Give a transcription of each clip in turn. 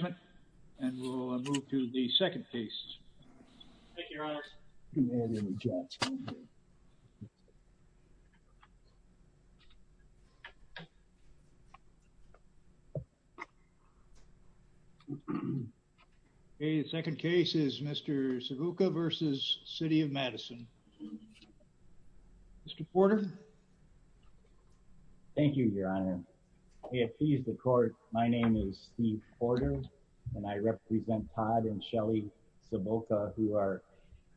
The second case is Mr. Cibulka v. City of Madison. Mr. Porter? Thank you, Your Honor. If he's the court, my name is Steve Porter, and I represent Todd and Shelly Cibulka who are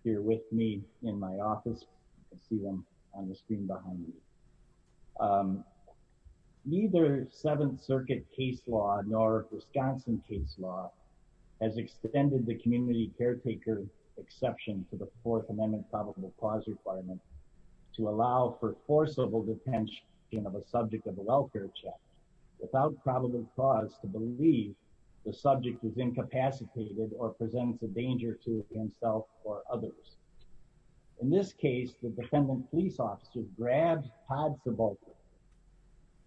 here with me in my office. You can see them on the screen behind me. Neither Seventh Circuit case law nor Wisconsin case law has extended the community caretaker exception to the Fourth Amendment probable cause requirement to allow for forcible detention of a subject of a welfare check without probable cause to believe the subject is incapacitated or presents a danger to himself or others. In this case, the defendant police officer grabbed Todd Cibulka,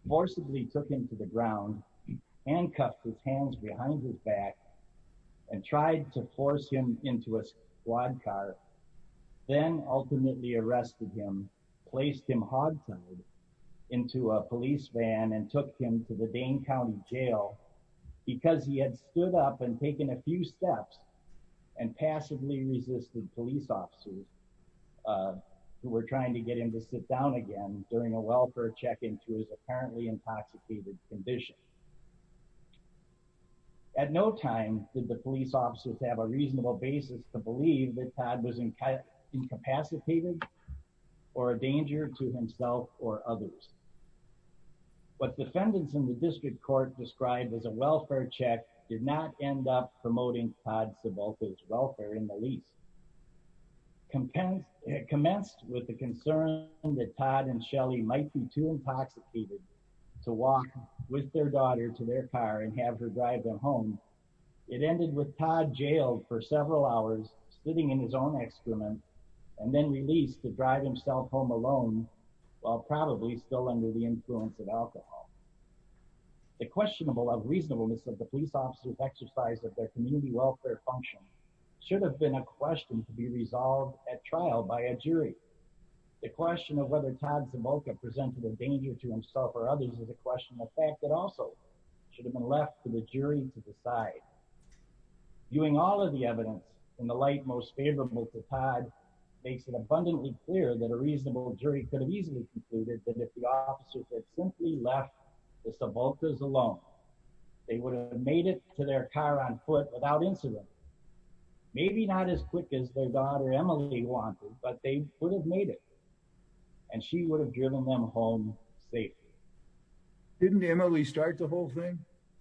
forcibly took him to the ground, handcuffed his hands behind his back, and tried to force him into a squad car, then ultimately arrested him, placed him hogtied into a police van and took him to the Dane County Jail because he had stood up and taken a few steps and passively resisted police officers who were trying to get him to sit down again during a welfare check into his apparently intoxicated condition. At no time did the police officers have a reasonable basis to believe that Todd was incapacitated or a danger to himself or others. What defendants in the district court described as a welfare check did not end up promoting Todd Cibulka's welfare in the least. It commenced with the concern that Todd and Shelly might be too intoxicated to walk with their daughter to their car and have her drive them home. It took Todd several hours, sitting in his own excrement, and then released to drive himself home alone while probably still under the influence of alcohol. The question of reasonableness of the police officers' exercise of their community welfare function should have been a question to be resolved at trial by a jury. The question of whether Todd Cibulka presented a danger to himself or others is a question of fact that also should have been left to the jury to decide. Viewing all of the evidence in the light most favorable to Todd makes it abundantly clear that a reasonable jury could have easily concluded that if the officers had simply left the Cibulkas alone, they would have made it to their car on foot without incident. Maybe not as quick as their daughter Emily wanted, but they would have made it, and she would have driven them home safely. Didn't Emily start the whole thing?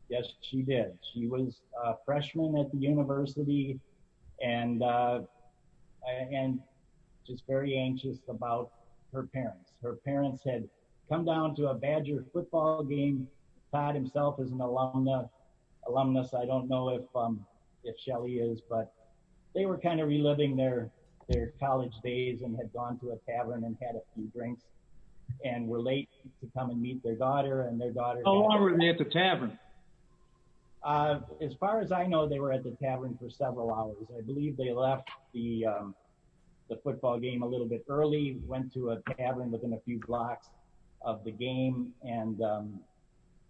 Yes, she did. She was a freshman at the university and just very anxious about her parents. Her parents had come down to a Badger football game. Todd himself is an alumnus. I don't know if Shelly is, but they were kind of reliving their college days and had gone to a football game to meet their daughter and their daughter. How long were they at the tavern? As far as I know, they were at the tavern for several hours. I believe they left the football game a little bit early, went to a tavern within a few blocks of the game and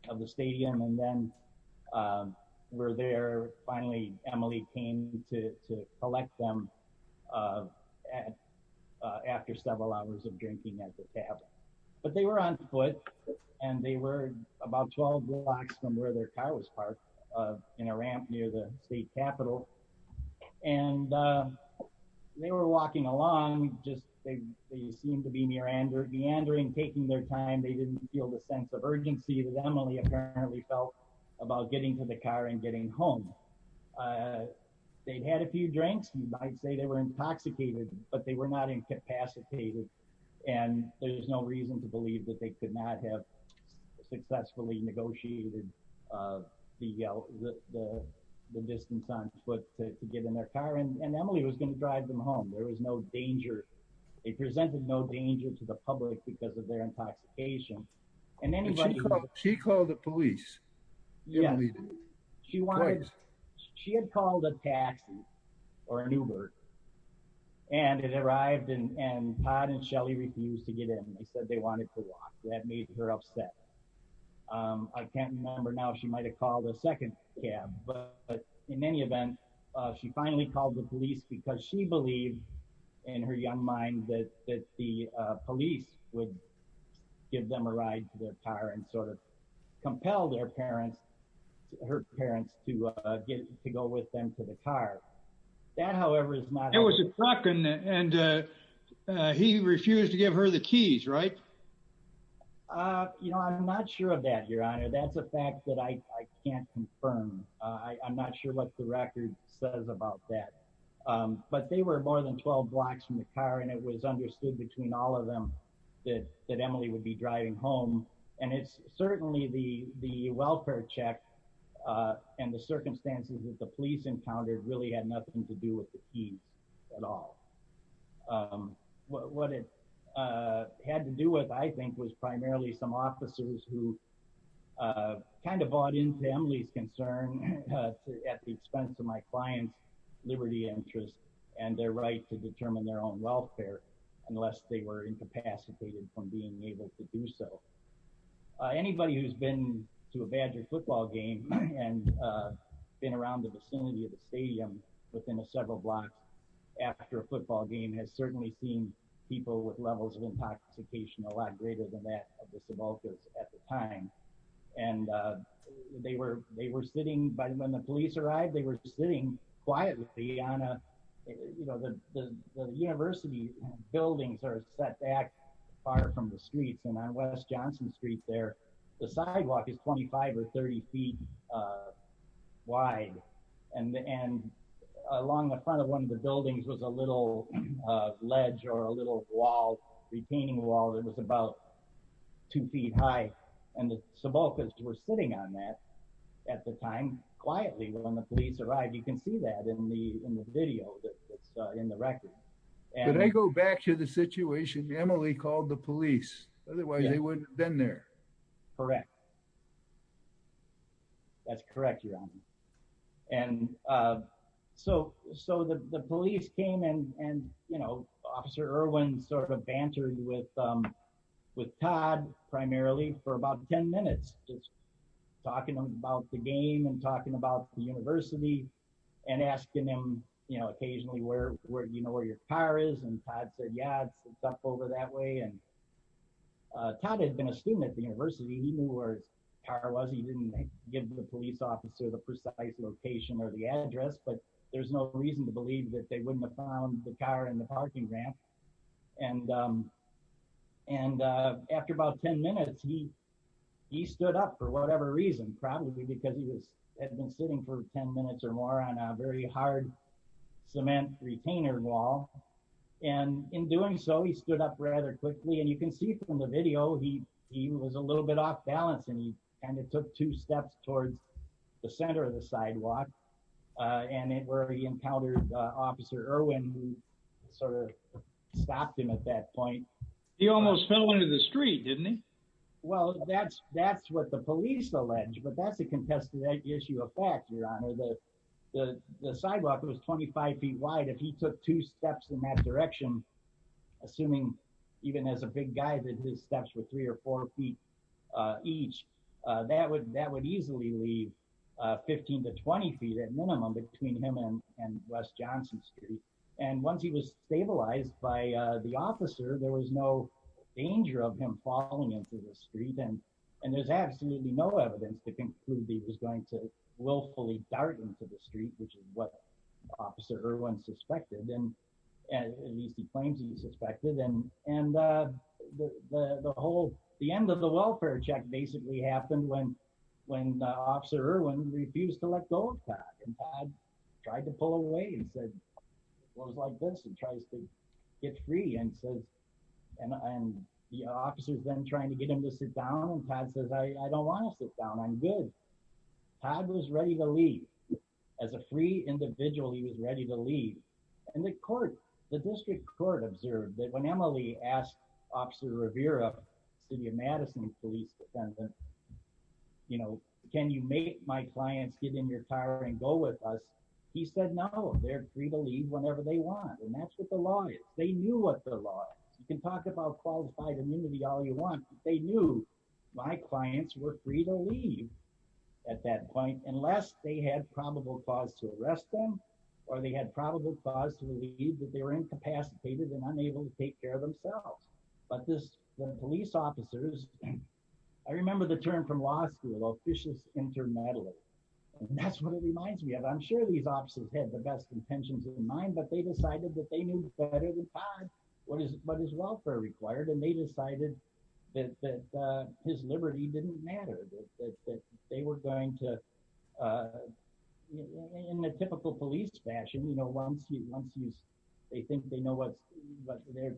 of the stadium and then were there. Finally, Emily came to collect them after several hours of drinking at the tavern. But they were on foot and they were about 12 blocks from where their car was parked in a ramp near the state capitol. And they were walking along, just they seemed to be meandering, taking their time. They didn't feel the sense of urgency that Emily apparently felt about getting to the car and getting home. They'd had a few drinks. They were intoxicated, but they were not incapacitated. And there's no reason to believe that they could not have successfully negotiated the distance on foot to get in their car. And Emily was going to drive them home. There was no danger. It presented no danger to the public because of their intoxication. And she called the police. She had called a taxi or an Uber and it arrived and Todd and Shelley refused to get in. They said they wanted to walk. That made her upset. I can't remember now if she might have called a second cab, but in any event, she finally called the police because she believed in her young mind that the police would give them a ride to their car and sort of compel their parents, her parents to get to go with them to the car. That, however, is not... There was a truck and he refused to give her the keys, right? You know, I'm not sure of that, Your Honor. That's a fact that I can't confirm. I'm not sure what the record says about that. But they were more than 12 blocks from the car and it was understood between all of them that Emily would be driving home. And it's certainly the welfare check and the circumstances that the police encountered really had nothing to do with the keys at all. What it had to do with, I think, was primarily some officers who kind of bought into Emily's concern at the expense of my client's liberty interest and their right to determine their own welfare unless they were incapacitated from being able to do so. Anybody who's been to a Badger football game and been around the vicinity of the stadium within a several blocks after a football game has certainly seen people with levels of intoxication a lot greater than that of the Sevalkas at the time. And they were sitting... When the police arrived, they were sitting quietly on a... You know, the university buildings are set back far from the sidewalk. It's 25 or 30 feet wide. And along the front of one of the buildings was a little ledge or a little wall, retaining wall, that was about two feet high. And the Sevalkas were sitting on that at the time quietly. When the police arrived, you can see that in the video that's in the record. Did I go back to the situation Emily called the police? Otherwise, they wouldn't have been there. Correct. That's correct, Your Honor. And so the police came and, you know, Officer Irwin sort of bantered with Todd primarily for about 10 minutes, just talking about the game and talking about the university and asking him, you know, occasionally you know where your car is. And Todd said, yeah, it's up over that way. And Todd had been a student at the university. He knew where his car was. He didn't give the police officer the precise location or the address, but there's no reason to believe that they wouldn't have found the car in the parking ramp. And after about 10 minutes, he stood up for whatever reason, probably because he had been sitting for 10 minutes or more on a very hard cement retainer wall. And in doing so, he stood up rather quickly. And you can see from the video, he was a little bit off balance and he kind of took two steps towards the center of the sidewalk. And it where he encountered Officer Irwin, who sort of stopped him at that point. He almost fell into the street, didn't he? Well, that's what the police allege, but that's a contested issue of fact, your honor. The sidewalk was 25 feet wide. If he took two steps in that direction, assuming even as a big guy that his steps were three or four feet each, that would easily leave 15 to 20 feet at minimum between him and West Johnson Street. And once he was stabilized by the officer, there was no danger of him falling into the street. And there's absolutely no evidence to conclude that he was going to willfully dart into the street, which is what Officer Irwin suspected, at least he claims he suspected. And the whole, the end of the welfare check basically happened when Officer Irwin refused to let go of Todd. And Todd tried to pull away and said, well, it was like this and tries to get free and says, and the officers then trying to get him to sit down and Todd says, I don't want to sit down. I'm good. Todd was ready to leave. As a free individual, he was ready to leave. And the court, the district court observed that when Emily asked Officer Rivera, city of Madison police defendant, you know, can you make my clients get in your car and go with us? He said, no, they're free to leave whenever they want. And that's what the law is. They knew what the law is. You can talk about qualified immunity all you want. They knew my clients were free to leave at that point, unless they had probable cause to arrest them, or they had probable cause to leave that they were incapacitated and unable to take care of themselves. But this police officers, I remember the term from law school, vicious internatally. And that's what it reminds me of. I'm sure these officers had the best intentions in mind, but they decided that they knew better than Todd, what is, what is welfare required. And they decided that, that his liberty didn't matter, that they were going to, in a typical police fashion, you know, once you, once you, they think they know what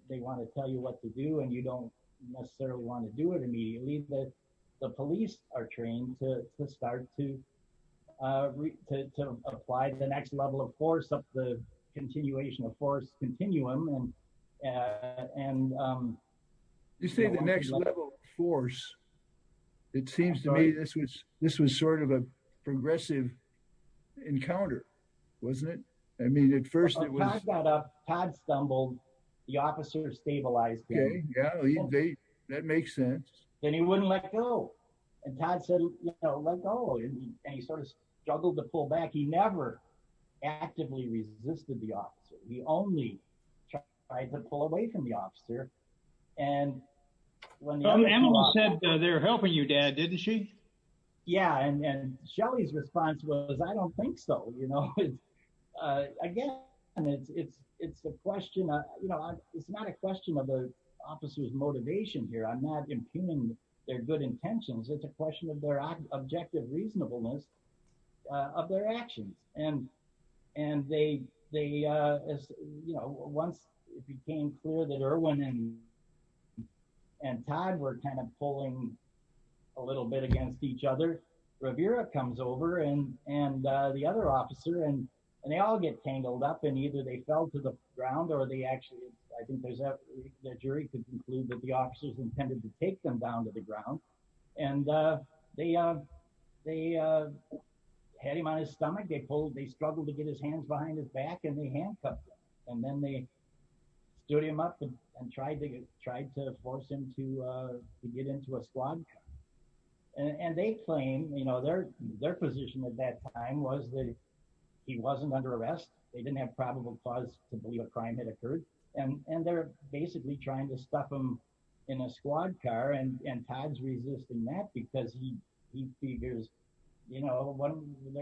they want to tell you what to do, and you don't necessarily want to do it immediately that the police are trained to start to, to apply the next level of force of the continuation of force continuum. And you say the next level of force, it seems to me this was, this was sort of a progressive encounter, wasn't it? I mean, at first it was, Todd stumbled, the officers stabilized him. Yeah, that makes sense. Then he wouldn't let go. And Todd said, you know, let go. And he sort of struggled to pull back. He never actively resisted the officer. He only tried to pull away from the officer. And when- But Emily said they're helping you, dad, didn't she? Yeah. And, and Shelly's response was, I don't think so. You know, again, it's, it's, it's a question, you know, it's not a question of the officer's motivation here. I'm not impugning their good intentions. It's a question of their objective reasonableness of their actions. And, and they, they, you know, once it became clear that Irwin and, and Todd were kind of pulling a little bit against each other, Rivera comes over and, and the other officer and, and they all get tangled up. And either they fell to the ground or they actually, I think there's a, the jury could conclude that the officers intended to take them down to the ground. And they, they had him on his stomach. They pulled, they struggled to get his hands behind his back and they handcuffed him. And then they stood him up and tried to, tried to force him to get into a squad car. And they claim, you know, their, their position at that time was that he wasn't under arrest. They didn't have probable cause to believe a crime had occurred. And, and they're basically trying to stuff him in a squad car. And, and Todd's resisting that because he, he figures, you know, what,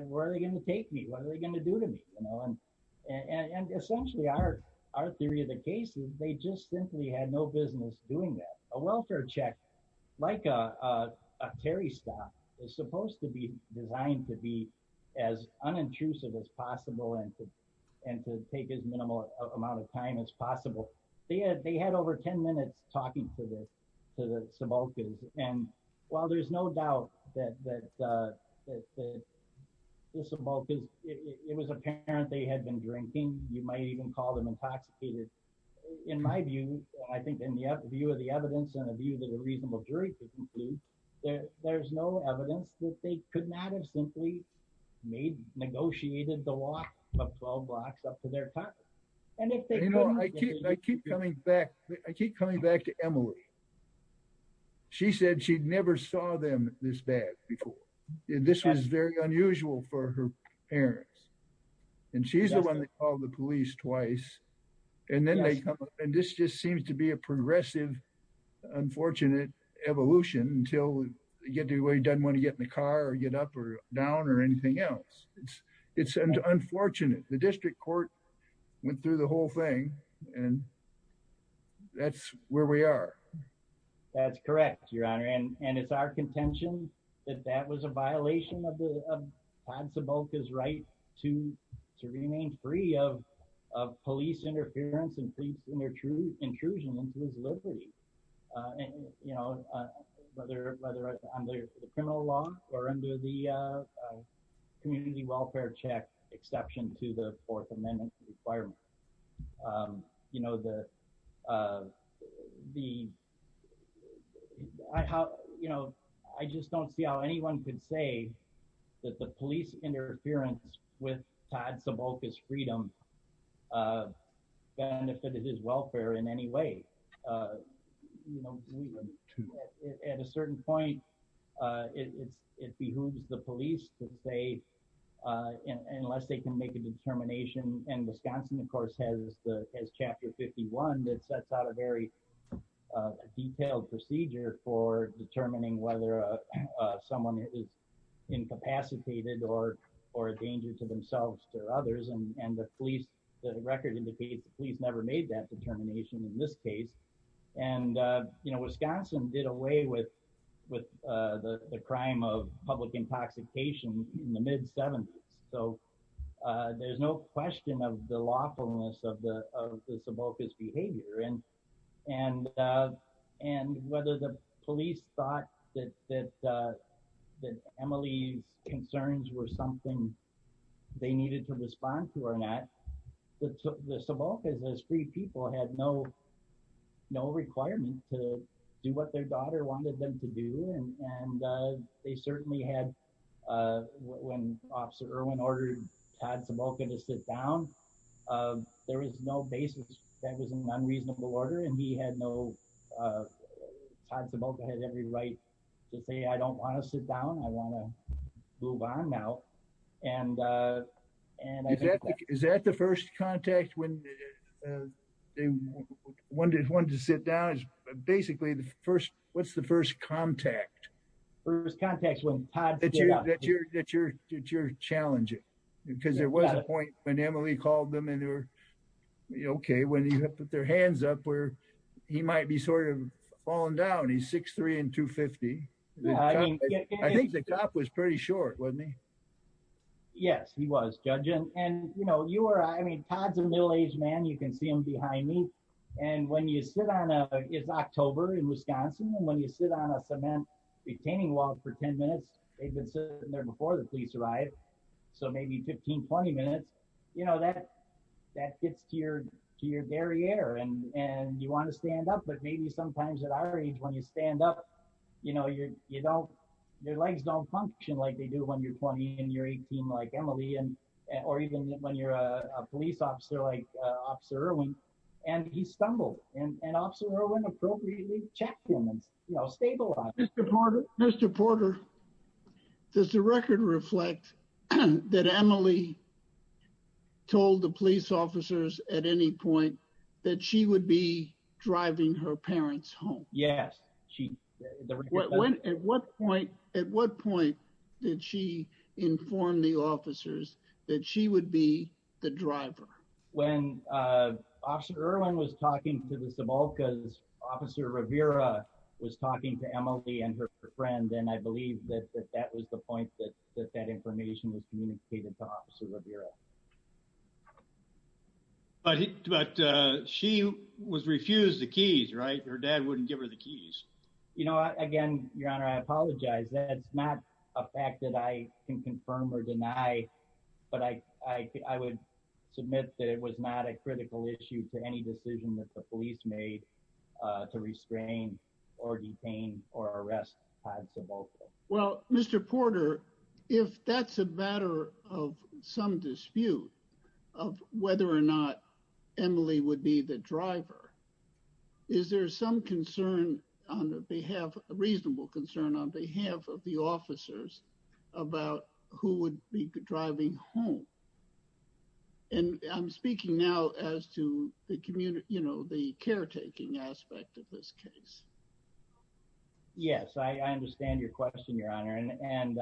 where are they going to take me? What are they going to do to me? You know, and, and, and essentially our, our theory of the case is they just simply had no doing that. A welfare check, like a, a, a Terry stock is supposed to be designed to be as unobtrusive as possible and to, and to take as minimal amount of time as possible. They had, they had over 10 minutes talking to the, to the Sebokas. And while there's no doubt that, that, that the Sebokas, it was apparent they had been drinking. You might even call them intoxicated. In my view, I think in the view of the evidence and a view that a reasonable jury could conclude that there's no evidence that they could not have simply made, negotiated the walk of 12 blocks up to their car. And if they, I keep coming back, I keep coming back to Emily. She said she'd never saw them this bad before. This was very unusual for her parents. And she's the one that called the police twice. And then they come up and this just seems to be a progressive, unfortunate evolution until you get to where he doesn't want to get in the car or get up or down or anything else. It's, it's unfortunate. The district court went through the whole thing and that's where we are. That's correct, your honor. And, and it's our contention that that was a violation of the, of Todd Sebokas' right to, to remain free of, of police interference and police intrusion into his liberty. And, you know, whether, whether under the criminal law or under the community welfare check exception to the fourth could say that the police interference with Todd Sebokas' freedom benefited his welfare in any way. At a certain point it's, it behooves the police to say unless they can make a determination. And Wisconsin of course has the, has chapter 51 that sets out a very detailed procedure for someone who is incapacitated or, or a danger to themselves or others. And the police, the record indicates the police never made that determination in this case. And, you know, Wisconsin did away with, with the crime of public intoxication in the mid seventies. So there's no question of the lawfulness of the, of the Sebokas' behavior. And, and, and whether the police thought that, that, that Emily's concerns were something they needed to respond to or not, the Sebokas as free people had no, no requirement to do what their daughter wanted them to do. And, and they certainly had, when officer Irwin ordered Todd Sebokas to sit down, there was no basis that was an unreasonable order. And he had no, Todd Sebokas had every right to say, I don't want to sit down. I want to move on now. And, and I think that- Is that the first contact when they wanted, wanted to sit down is basically the first, what's the first contact? First contact when Todd stood up. That you're, that you're, that you're challenging. Because there was a point when Emily called them and they were okay. When you put their hands up where he might be sort of falling down, he's 6'3 and 250. I think the cop was pretty short, wasn't he? Yes, he was judge. And, and you know, you were, I mean, Todd's a middle-aged man. You can see him behind me. And when you sit on a, it's October in Wisconsin. And when you sit on a cement retaining wall for 10 minutes, they've been sitting there before the police arrived. So maybe 15, 20 minutes, you know, that, that gets to your, to your very air and, and you want to stand up. But maybe sometimes at our age, when you stand up, you know, you're, you don't, your legs don't function like they do when you're 20 and you're 18, like Emily. And, or even when you're a police officer, like Officer Irwin, and he stumbled and Officer Irwin appropriately checked him and stabilized him. Mr. Porter, Mr. Porter, does the record reflect that Emily told the police officers at any point that she would be driving her parents home? Yes. At what point, at what point did she inform the officers that she would be the driver? When Officer Irwin was talking to the Sebalcas, Officer Rivera was talking to Emily and her friend. And I believe that that was the point that, that that information was communicated to Officer Rivera. But, but she was refused the keys, right? Her dad wouldn't give her the keys. You know, again, Your Honor, I apologize. That's not a fact that I can confirm or deny, but I, I would submit that it was not a critical issue to any decision that the police made to restrain or detain or arrest Todd Sebalcas. Well, Mr. Porter, if that's a matter of some dispute of whether or not Emily would be the driver, is there some concern on the behalf, reasonable concern on behalf of the officers about who would be driving home? And I'm speaking now as to the community, you know, the caretaking aspect of this case. Yes, I understand your question, Your Honor. And, and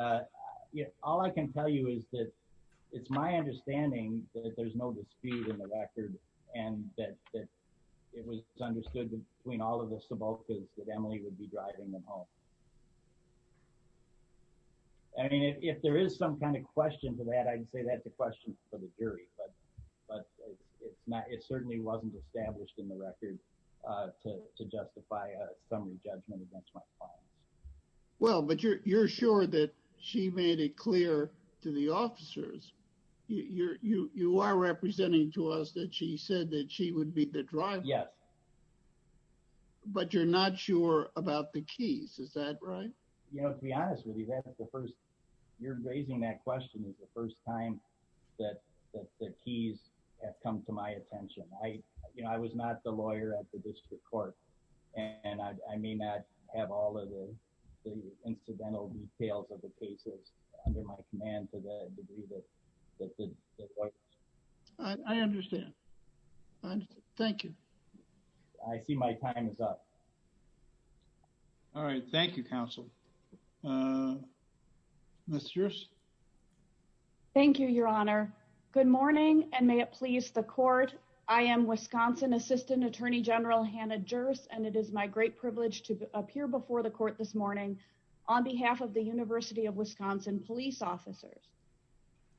all I can tell you is that it's my understanding that there's no dispute in the record and that it was understood between all of the Sebalcas that Emily would be driving them home. I mean, if there is some kind of it certainly wasn't established in the record to justify a summary judgment against my clients. Well, but you're, you're sure that she made it clear to the officers. You're, you, you are representing to us that she said that she would be the driver. Yes. But you're not sure about the keys. Is that right? You know, to be honest with you, that's the first, you're raising that question is the first time that, that the keys have come to my attention. I, you know, I was not the lawyer at the district court and I may not have all of the incidental details of the cases under my command to the degree that, that the lawyers. I understand. Thank you. I see my time is up. All right. Thank you, counsel. Uh, Mr. Thank you, your honor. Good morning. And may it please the court. I am Wisconsin assistant attorney general, Hannah jurors. And it is my great privilege to appear before the court this morning on behalf of the university of Wisconsin police officers.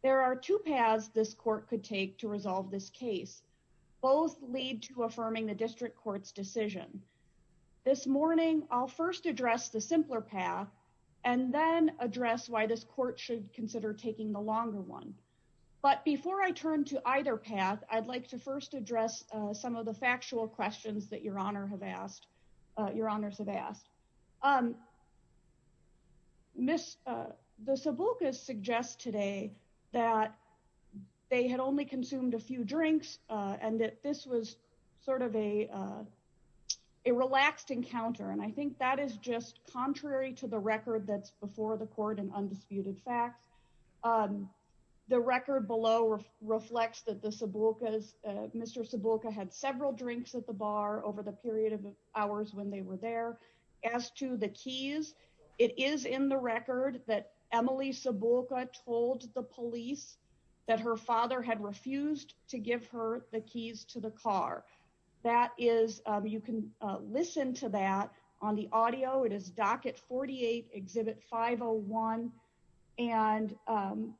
There are two paths. This court could take to resolve this case. Both lead to affirming the district court's decision. This morning, I'll first address the simpler path and then address why this court should consider taking the longer one. But before I turn to either path, I'd like to first address some of the factual questions that your honor have asked. Uh, your honors have asked, um, Miss, uh, the sub book is suggest today that they had only consumed a few drinks. Uh, and that this was sort of a, uh, a relaxed encounter. And I think that is just contrary to the record. That's before the court and undisputed facts. Um, the record below reflects that the sub book is, uh, Mr. Sebulka had several drinks at the bar over the period of hours when they were there as to the keys. It is in the record that Emily Sebulka told the police that her father had refused to give her the keys to the car. That is, um, you can listen to that on the audio. It is docket 48, exhibit 501. And, um,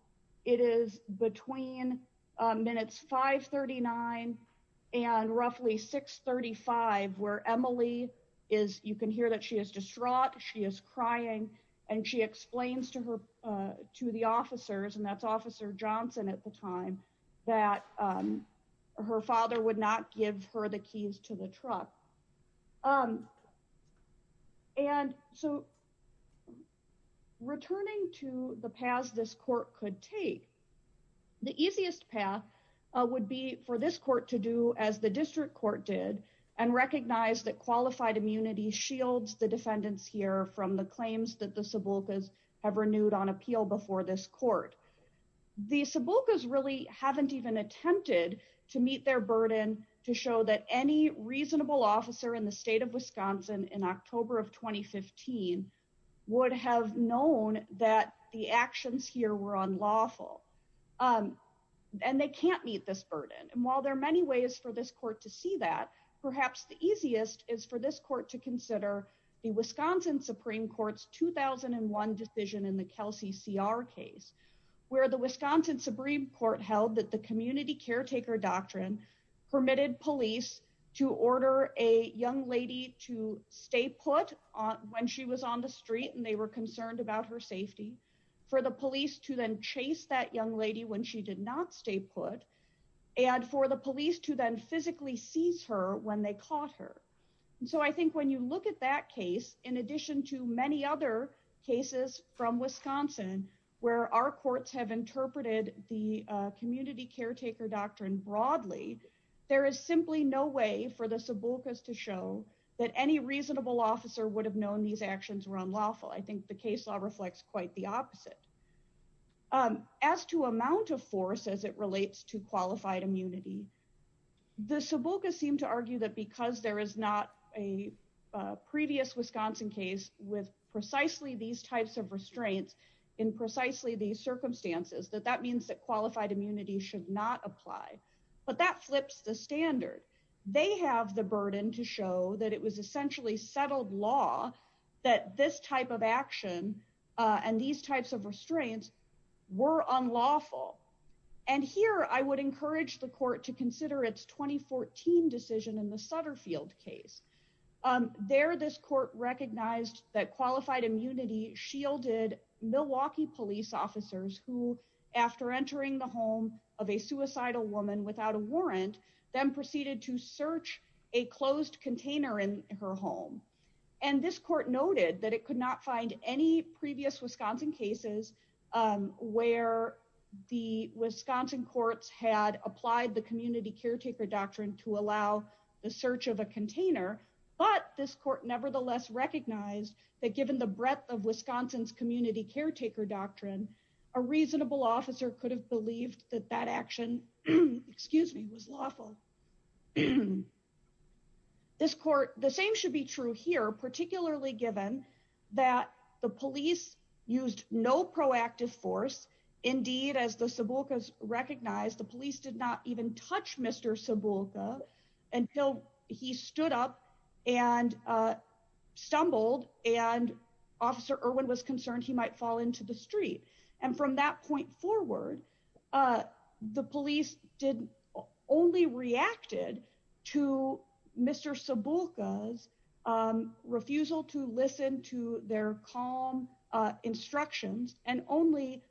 it is between, uh, minutes, 5 39 and roughly 6 35, where Emily is, you can hear that she is distraught. She is crying and she explains to her, uh, to the officers and that's officer Johnson at the time that, um, her father would not give her the keys to the truck. Um, and so returning to the past, this court could take the easiest path, uh, would be for this court to do as the district court did and recognize that qualified immunity shields the defendants here from the claims that the Sebulka's have renewed on appeal before this court. The Sebulka's really haven't even attempted to meet their burden to show that any reasonable officer in the state of Wisconsin in October of 2015 would have known that the actions here were unlawful. Um, and they can't meet this burden. And while there are many ways for this court to see that perhaps the easiest is for this court to consider the Wisconsin Supreme court's 2001 decision in the Kelsey CR case where the Wisconsin Supreme court held that the community caretaker doctrine permitted police to order a young lady to stay put on when she was on the street and they were concerned about her safety for the police to then chase that young lady when she did not stay put and for the police to then physically seize her when they caught her. And so I think when you look at that case, in addition to many other cases from Wisconsin, where our courts have interpreted the community caretaker doctrine broadly, there is simply no way for the Sebulka's to show that any reasonable officer would have known these actions were as it relates to qualified immunity. The Sebulka seem to argue that because there is not a previous Wisconsin case with precisely these types of restraints in precisely these circumstances, that that means that qualified immunity should not apply, but that flips the standard. They have the burden to show that it was essentially settled law that this type of action and these types of restraints were unlawful. And here I would encourage the court to consider its 2014 decision in the Sutterfield case. There, this court recognized that qualified immunity shielded Milwaukee police officers who, after entering the home of a suicidal woman without a warrant, then proceeded to search a closed container in her home. And this court noted that it could not find any previous Wisconsin cases where the Wisconsin courts had applied the community caretaker doctrine to allow the search of a container. But this court nevertheless recognized that given the breadth of Wisconsin's community caretaker doctrine, a reasonable officer could have believed that that action, excuse me, was lawful. This court, the same should be true here, particularly given that the police used no proactive force. Indeed, as the Sebulkas recognized, the police did not even touch Mr. Sebulka until he stood up and stumbled and Officer Irwin was concerned he might fall into the street. And from that point forward, the police did only reacted to Mr. Sebulka's refusal to listen to their calm instructions and only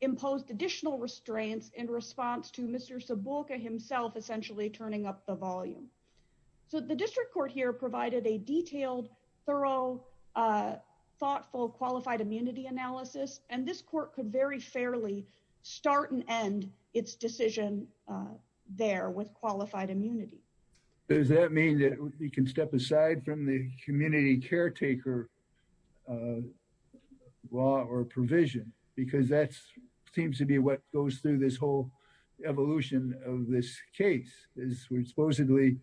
imposed additional restraints in response to Mr. Sebulka himself essentially turning up the volume. So the district court here provided a detailed, thorough, thoughtful, qualified immunity analysis. And this court could very fairly start and end its decision there with qualified immunity. Does that mean that we can step aside from the community caretaker law or provision? Because that seems to be what goes through this whole evolution of this case is supposedly,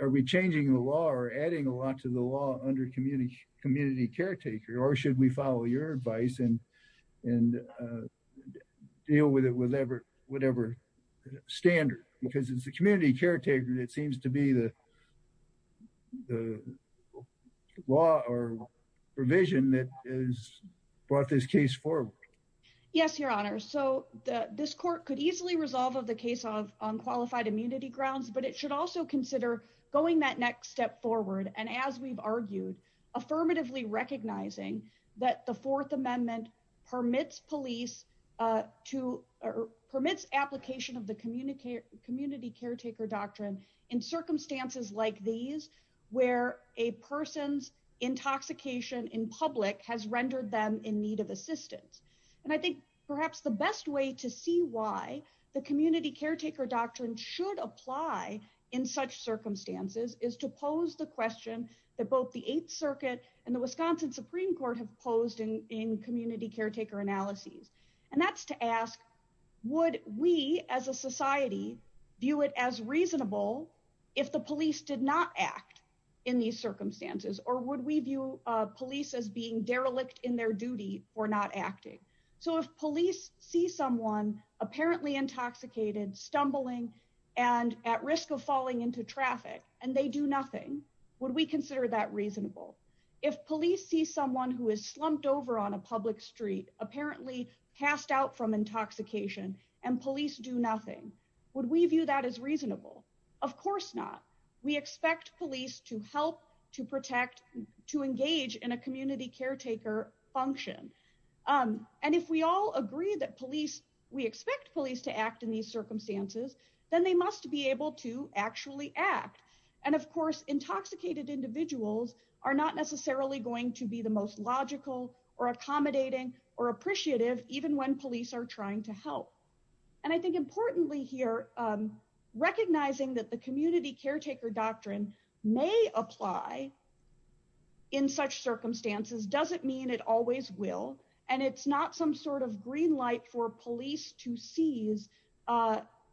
are we changing the law or adding a lot to the law under community caretaker? Or should we follow your advice and deal with it with whatever standard? Because it's the community caretaker that seems to be the law or provision that has brought this case forward. Yes, Your Honor. So this court could easily resolve of the case on qualified immunity grounds, but it should also consider going that next step forward. And as we've argued, affirmatively recognizing that the Fourth Amendment permits police to, or permits application of the community caretaker doctrine in circumstances like these, where a person's intoxication in public has rendered them in need of assistance. And I think perhaps the best way to see why the community caretaker doctrine should apply in such circumstances is to pose the question that the Eighth Circuit and the Wisconsin Supreme Court have posed in community caretaker analyses. And that's to ask, would we as a society view it as reasonable if the police did not act in these circumstances, or would we view police as being derelict in their duty for not acting? So if police see someone apparently intoxicated, stumbling, and at risk of falling into traffic, and they do nothing, would we consider that reasonable? If police see someone who is slumped over on a public street, apparently passed out from intoxication, and police do nothing, would we view that as reasonable? Of course not. We expect police to help, to protect, to engage in a community caretaker function. And if we all agree that police, we expect police to act in these circumstances, then they must be able to actually act. And of course, intoxicated individuals are not necessarily going to be the most logical, or accommodating, or appreciative, even when police are trying to help. And I think importantly here, recognizing that the community caretaker doctrine may apply in such circumstances doesn't mean it always will. And it's not some green light for police to seize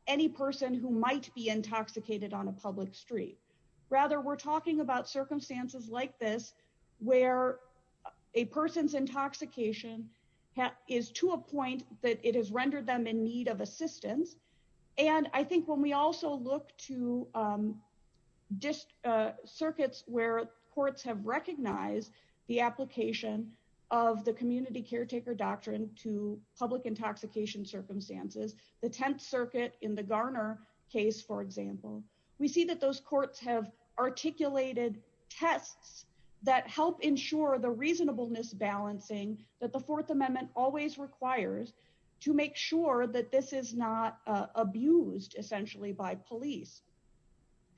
any person who might be intoxicated on a public street. Rather, we're talking about circumstances like this, where a person's intoxication is to a point that it has rendered them in need of assistance. And I think when we also look to circuits where courts have recognized the application of the community caretaker doctrine to public intoxication circumstances, the Tenth Circuit in the Garner case, for example, we see that those courts have articulated tests that help ensure the reasonableness balancing that the Fourth Amendment always requires to make sure that this is not abused, essentially, by police.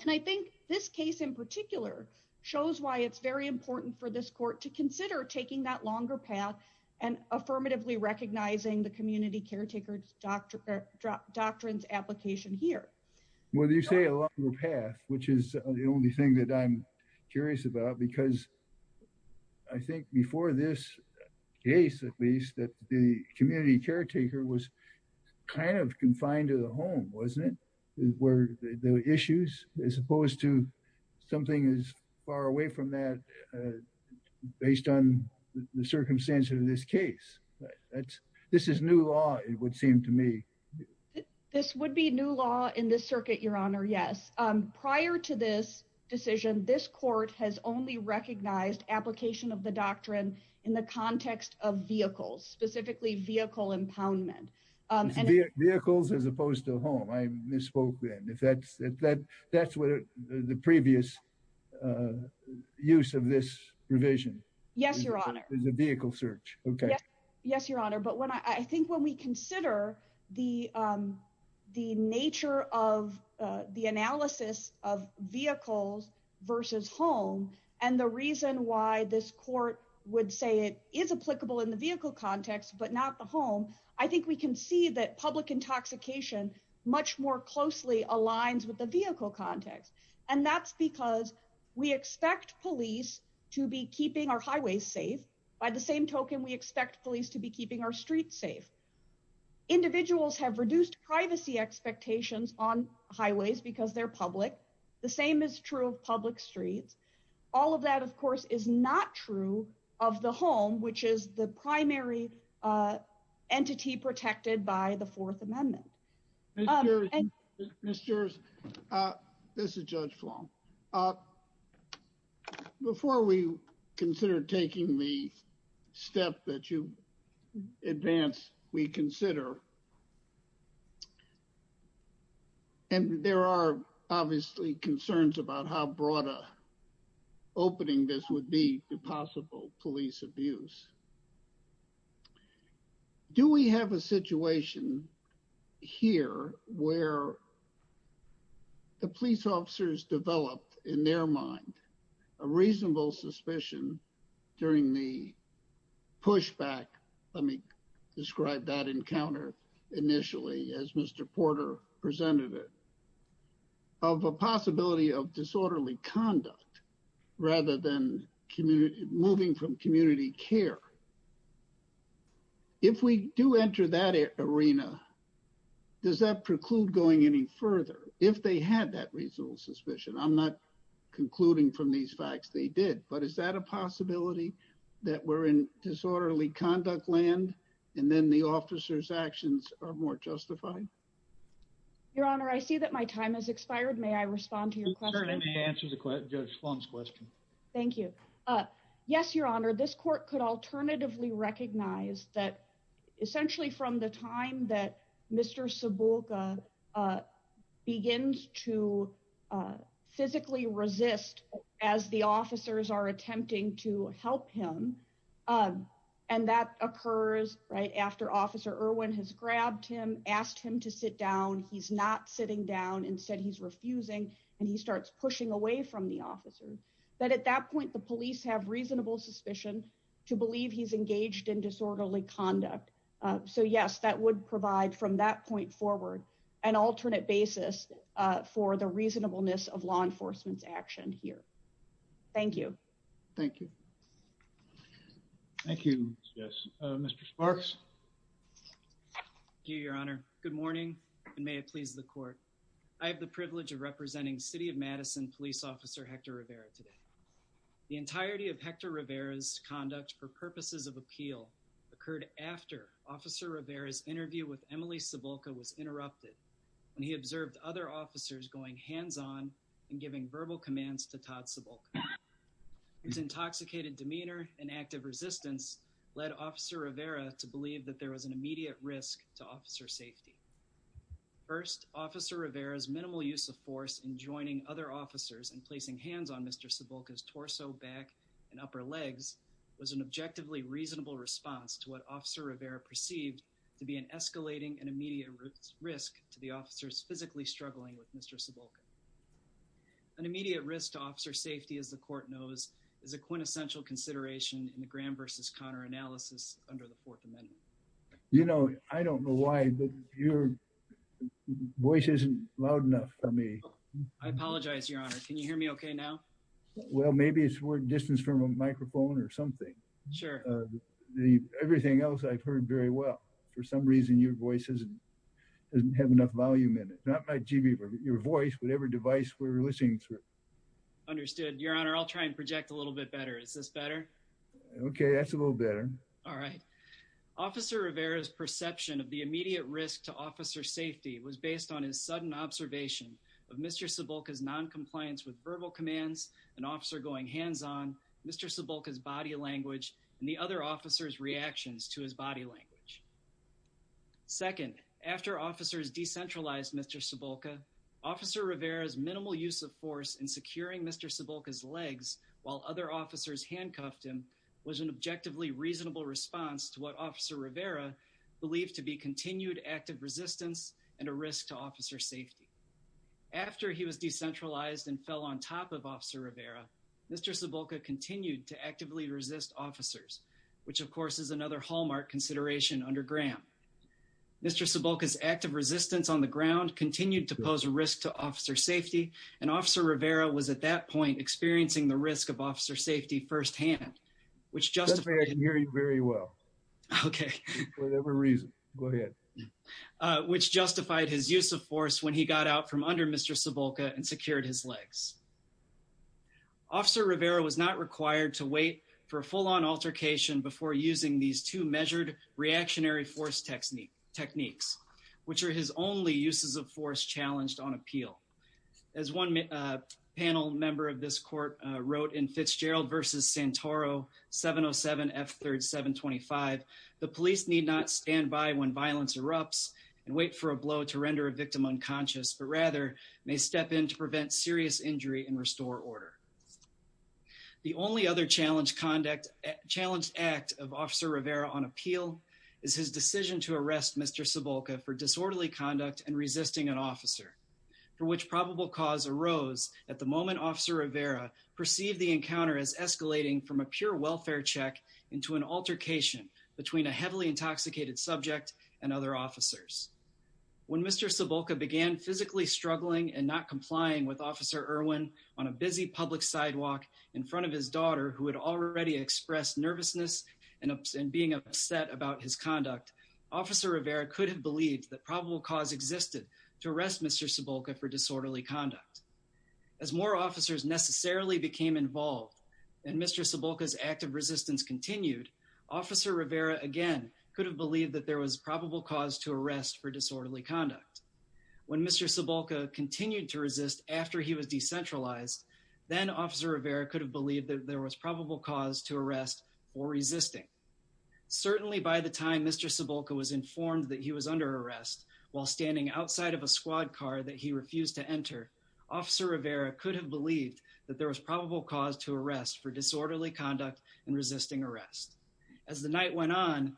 And I think this case in particular shows why it's very important for this court to consider taking that longer path and affirmatively recognizing the community caretaker doctrines application here. Well, you say a longer path, which is the only thing that I'm curious about, because I think before this case, at least, that the community caretaker was kind of confined to the home, wasn't it, where the issues, as opposed to something as far away from that, based on the circumstances of this case. This is new law, it would seem to me. This would be new law in this circuit, Your Honor, yes. Prior to this decision, this court has only recognized application of the doctrine in the context of vehicles, specifically vehicle impoundment. Vehicles as opposed to home, I misspoke then. That's the previous use of this provision. Yes, Your Honor. As a vehicle search, okay. Yes, Your Honor, but I think when we consider the nature of the analysis of vehicles versus home, and the reason why this court would say it is applicable in the vehicle context, but not the home, I think we can see that public intoxication much more closely aligns with the vehicle context. And that's because we expect police to be keeping our highways safe. By the same token, we expect police to be keeping our streets safe. Individuals have reduced privacy expectations on highways because they're public. The same is true of public streets. All of that, of course, is not true of the home, which is the primary entity protected by the Fourth Amendment. Ms. Juris, this is Judge Fong. Before we consider taking the step that you advance, we consider, and there are obviously concerns about how broad an opening this would be to possible police abuse. Do we have a situation here where the police officers developed, in their mind, a reasonable suspicion during the pushback, let me describe that encounter initially as Mr. Porter presented it, of a possibility of disorderly conduct rather than moving from community care? If we do enter that arena, does that preclude going any further? If they had that reasonable I don't think so, Your Honor. I don't think that's a possibility, but is that a possibility that we're in disorderly conduct land, and then the officers' actions are more justified? Your Honor, I see that my time has expired. May I respond to your question? Certainly. Answer Judge Fong's question. Thank you. Yes, Your Honor, this court could alternatively recognize that essentially from the time that Mr. Sebulka begins to physically resist as the officers are attempting to help him, and that occurs right after Officer Irwin has grabbed him, asked him to sit down. He's not sitting down. Instead, he's refusing, and he starts pushing away from the officers. At that point, the police have reasonable suspicion to believe he's engaged in disorderly conduct. So, yes, that would provide from that point forward an alternate basis for the reasonableness of law enforcement's action here. Thank you. Thank you. Thank you. Mr. Sparks? Thank you, Your Honor. Good morning, and may it please the court. I have the privilege of The entirety of Hector Rivera's conduct for purposes of appeal occurred after Officer Rivera's interview with Emily Sebulka was interrupted when he observed other officers going hands-on and giving verbal commands to Todd Sebulka. His intoxicated demeanor and active resistance led Officer Rivera to believe that there was an immediate risk to officer safety. First, Officer Rivera's minimal use of force in joining other officers and placing hands on Sebulka's torso, back, and upper legs was an objectively reasonable response to what Officer Rivera perceived to be an escalating and immediate risk to the officers physically struggling with Mr. Sebulka. An immediate risk to officer safety, as the court knows, is a quintessential consideration in the Graham v. Connor analysis under the Fourth Amendment. You know, I don't know why, but your voice isn't loud enough for me. I apologize, Your Honor. Can you hear me okay now? Well, maybe it's we're distanced from a microphone or something. Sure. Everything else I've heard very well. For some reason, your voice doesn't have enough volume in it. Not my GB, but your voice, whatever device we're listening through. Understood, Your Honor. I'll try and project a little bit better. Is this better? Okay, that's a little better. All right. Officer Rivera's perception of the immediate risk to officer safety was based on his sudden observation of Mr. Sebulka's non-compliance with verbal commands, an officer going hands-on, Mr. Sebulka's body language, and the other officer's reactions to his body language. Second, after officers decentralized Mr. Sebulka, Officer Rivera's minimal use of force in securing Mr. Sebulka's legs while other officers handcuffed him was an objectively reasonable response to what Officer Rivera believed to be continued active resistance and a risk to officer safety. After he was decentralized and fell on top of Officer Rivera, Mr. Sebulka continued to actively resist officers, which, of course, is another hallmark consideration under Graham. Mr. Sebulka's active resistance on the ground continued to pose a risk to officer safety, and Officer Rivera was at that point experiencing the risk of officer safety firsthand, which justified— I can hear you very well. Okay. For whatever reason. Go ahead. Which justified his use of force when he got out from under Mr. Sebulka and secured his legs. Officer Rivera was not required to wait for a full-on altercation before using these two measured reactionary force techniques, which are his only uses of force challenged on appeal. As one panel member of this court wrote in Fitzgerald v. Santoro 707 F. 3rd 725, the police need not stand by when violence erupts and wait for a blow to render a victim unconscious, but rather may step in to prevent serious injury and restore order. The only other challenged conduct—challenged act of Officer Rivera on appeal is his decision to arrest Mr. Sebulka for disorderly conduct and resisting an officer, for which probable cause arose at the moment Officer Rivera perceived the encounter as escalating from a pure welfare check into an altercation between a heavily intoxicated subject and other officers. When Mr. Sebulka began physically struggling and not complying with Officer Irwin on a busy public sidewalk in front of his daughter, who had already expressed nervousness and being upset about his conduct, Officer Rivera could have believed that probable cause existed to arrest Mr. Sebulka for disorderly conduct. As more officers necessarily became involved and Mr. Sebulka's act of resistance continued, Officer Rivera again could have believed that there was probable cause to arrest for disorderly conduct. When Mr. Sebulka continued to resist after he was decentralized, then Officer Rivera could have believed that there was probable cause to arrest for resisting. Certainly by the time Mr. Sebulka was informed that he was under arrest while standing outside of a squad car that he refused to enter, Officer Rivera could have for disorderly conduct and resisting arrest. As the night went on,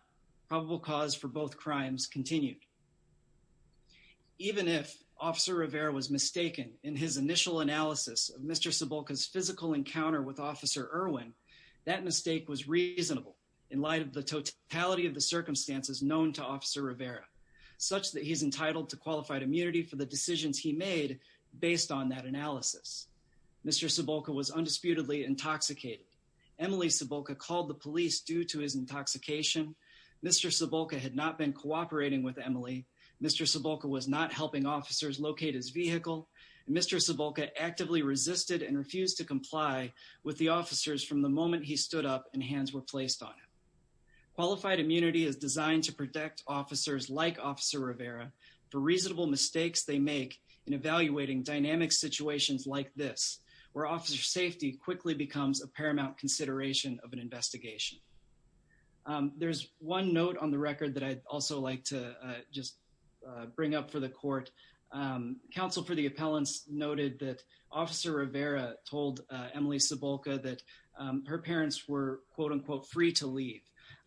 probable cause for both crimes continued. Even if Officer Rivera was mistaken in his initial analysis of Mr. Sebulka's physical encounter with Officer Irwin, that mistake was reasonable in light of the totality of the circumstances known to Officer Rivera, such that he's entitled to qualified immunity for the intoxicated. Emily Sebulka called the police due to his intoxication. Mr. Sebulka had not been cooperating with Emily. Mr. Sebulka was not helping officers locate his vehicle. Mr. Sebulka actively resisted and refused to comply with the officers from the moment he stood up and hands were placed on him. Qualified immunity is designed to protect officers like Officer Rivera for reasonable mistakes they make in evaluating dynamic situations like this, where officer safety quickly becomes a paramount consideration of an investigation. There's one note on the record that I'd also like to just bring up for the court. Counsel for the appellants noted that Officer Rivera told Emily Sebulka that her parents were, quote, unquote, free to leave.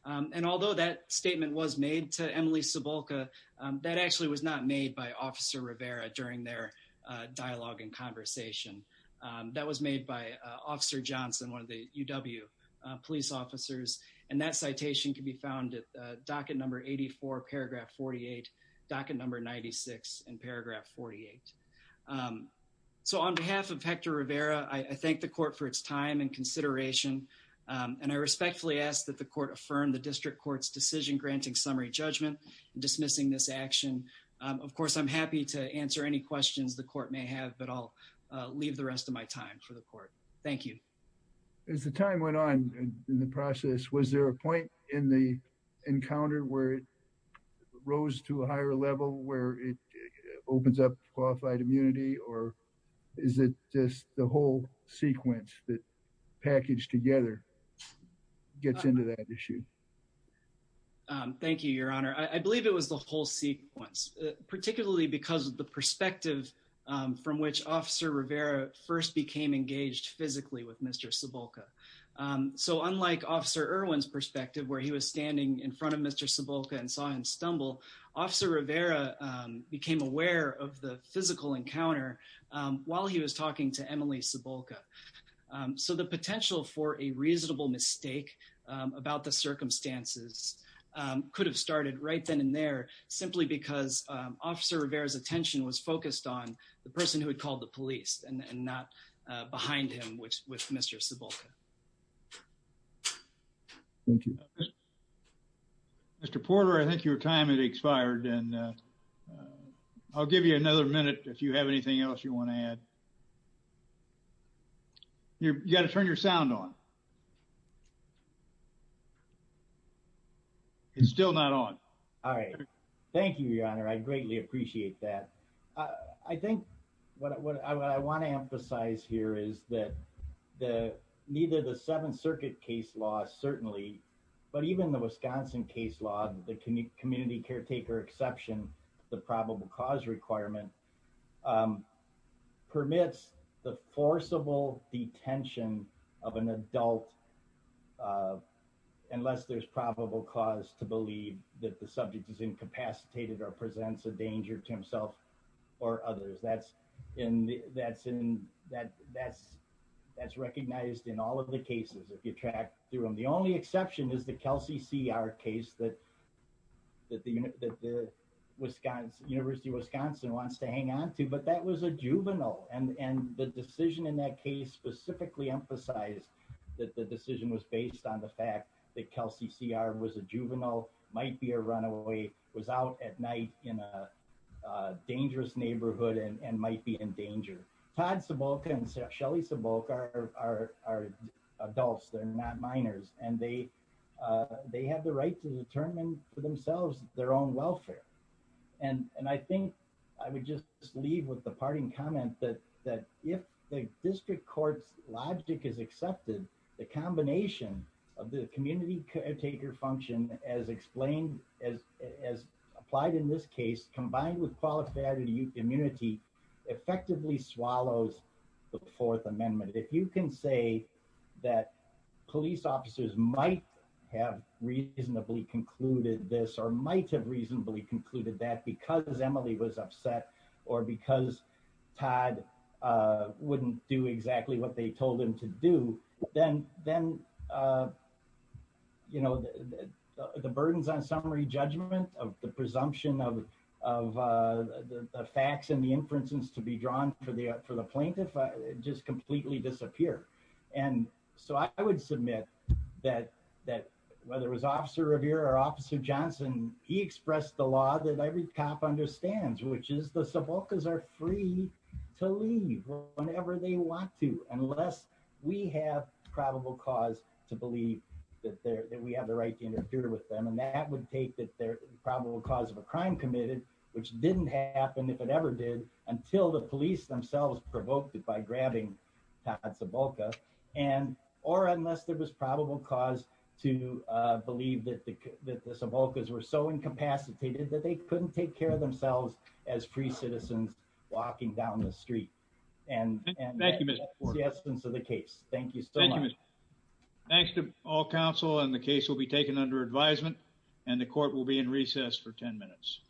And although that statement was made to Emily Sebulka, that actually was not by Officer Rivera during their dialogue and conversation. That was made by Officer Johnson, one of the UW police officers. And that citation can be found at docket number 84, paragraph 48, docket number 96, and paragraph 48. So on behalf of Hector Rivera, I thank the court for its time and consideration. And I respectfully ask that the court affirm the district court's decision granting summary judgment and dismissing this action. Of course, I'm happy to answer any questions the court may have, but I'll leave the rest of my time for the court. Thank you. As the time went on in the process, was there a point in the encounter where it rose to a higher level where it opens up qualified immunity? Or is it just the whole sequence that packaged together gets into that issue? Thank you, Your Honor. I believe it was the whole sequence, particularly because of the perspective from which Officer Rivera first became engaged physically with Mr. Sebulka. So unlike Officer Irwin's perspective, where he was standing in front of Mr. Sebulka and saw him stumble, Officer Rivera became aware of the physical encounter while he was talking to Sebulka. So the potential for a reasonable mistake about the circumstances could have started right then and there simply because Officer Rivera's attention was focused on the person who had called the police and not behind him with Mr. Sebulka. Thank you. Mr. Porter, I think your time has expired and I'll give you another minute if you have anything else you want to add. You've got to turn your sound on. It's still not on. All right. Thank you, Your Honor. I greatly appreciate that. I think what I want to emphasize here is that neither the Seventh Circuit case law, certainly, but even the Wisconsin case law, the community caretaker exception, the probable cause requirement, permits the forcible detention of an adult unless there's probable cause to believe that the subject is incapacitated or presents a danger to himself or others. That's recognized in all of the cases if you track through them. The only exception is the Kelsey C.R. case that the University of Wisconsin has to hang on to, but that was a juvenile. The decision in that case specifically emphasized that the decision was based on the fact that Kelsey C.R. was a juvenile, might be a runaway, was out at night in a dangerous neighborhood and might be in danger. Todd Sebulka and Shelly Sebulka are adults. They're not minors. They have the right to leave with the parting comment that if the district court's logic is accepted, the combination of the community caretaker function as explained, as applied in this case, combined with qualifiability immunity, effectively swallows the Fourth Amendment. If you can say that police officers might have reasonably concluded this or might have reasonably concluded that because Emily was upset or because Todd wouldn't do exactly what they told him to do, then the burdens on summary judgment of the presumption of the facts and the inferences to be drawn for the plaintiff just completely disappear. I would submit that whether it was understands, which is the Sebulkas are free to leave whenever they want to, unless we have probable cause to believe that we have the right to interfere with them. That would take the probable cause of a crime committed, which didn't happen, if it ever did, until the police themselves provoked it by grabbing Todd Sebulka, or unless there was probable cause to believe that the Sebulkas were so incapacitated that they couldn't take care of themselves as free citizens walking down the street. And that's the essence of the case. Thank you so much. Thanks to all counsel and the case will be taken under advisement and the court will be in recess for 10 minutes.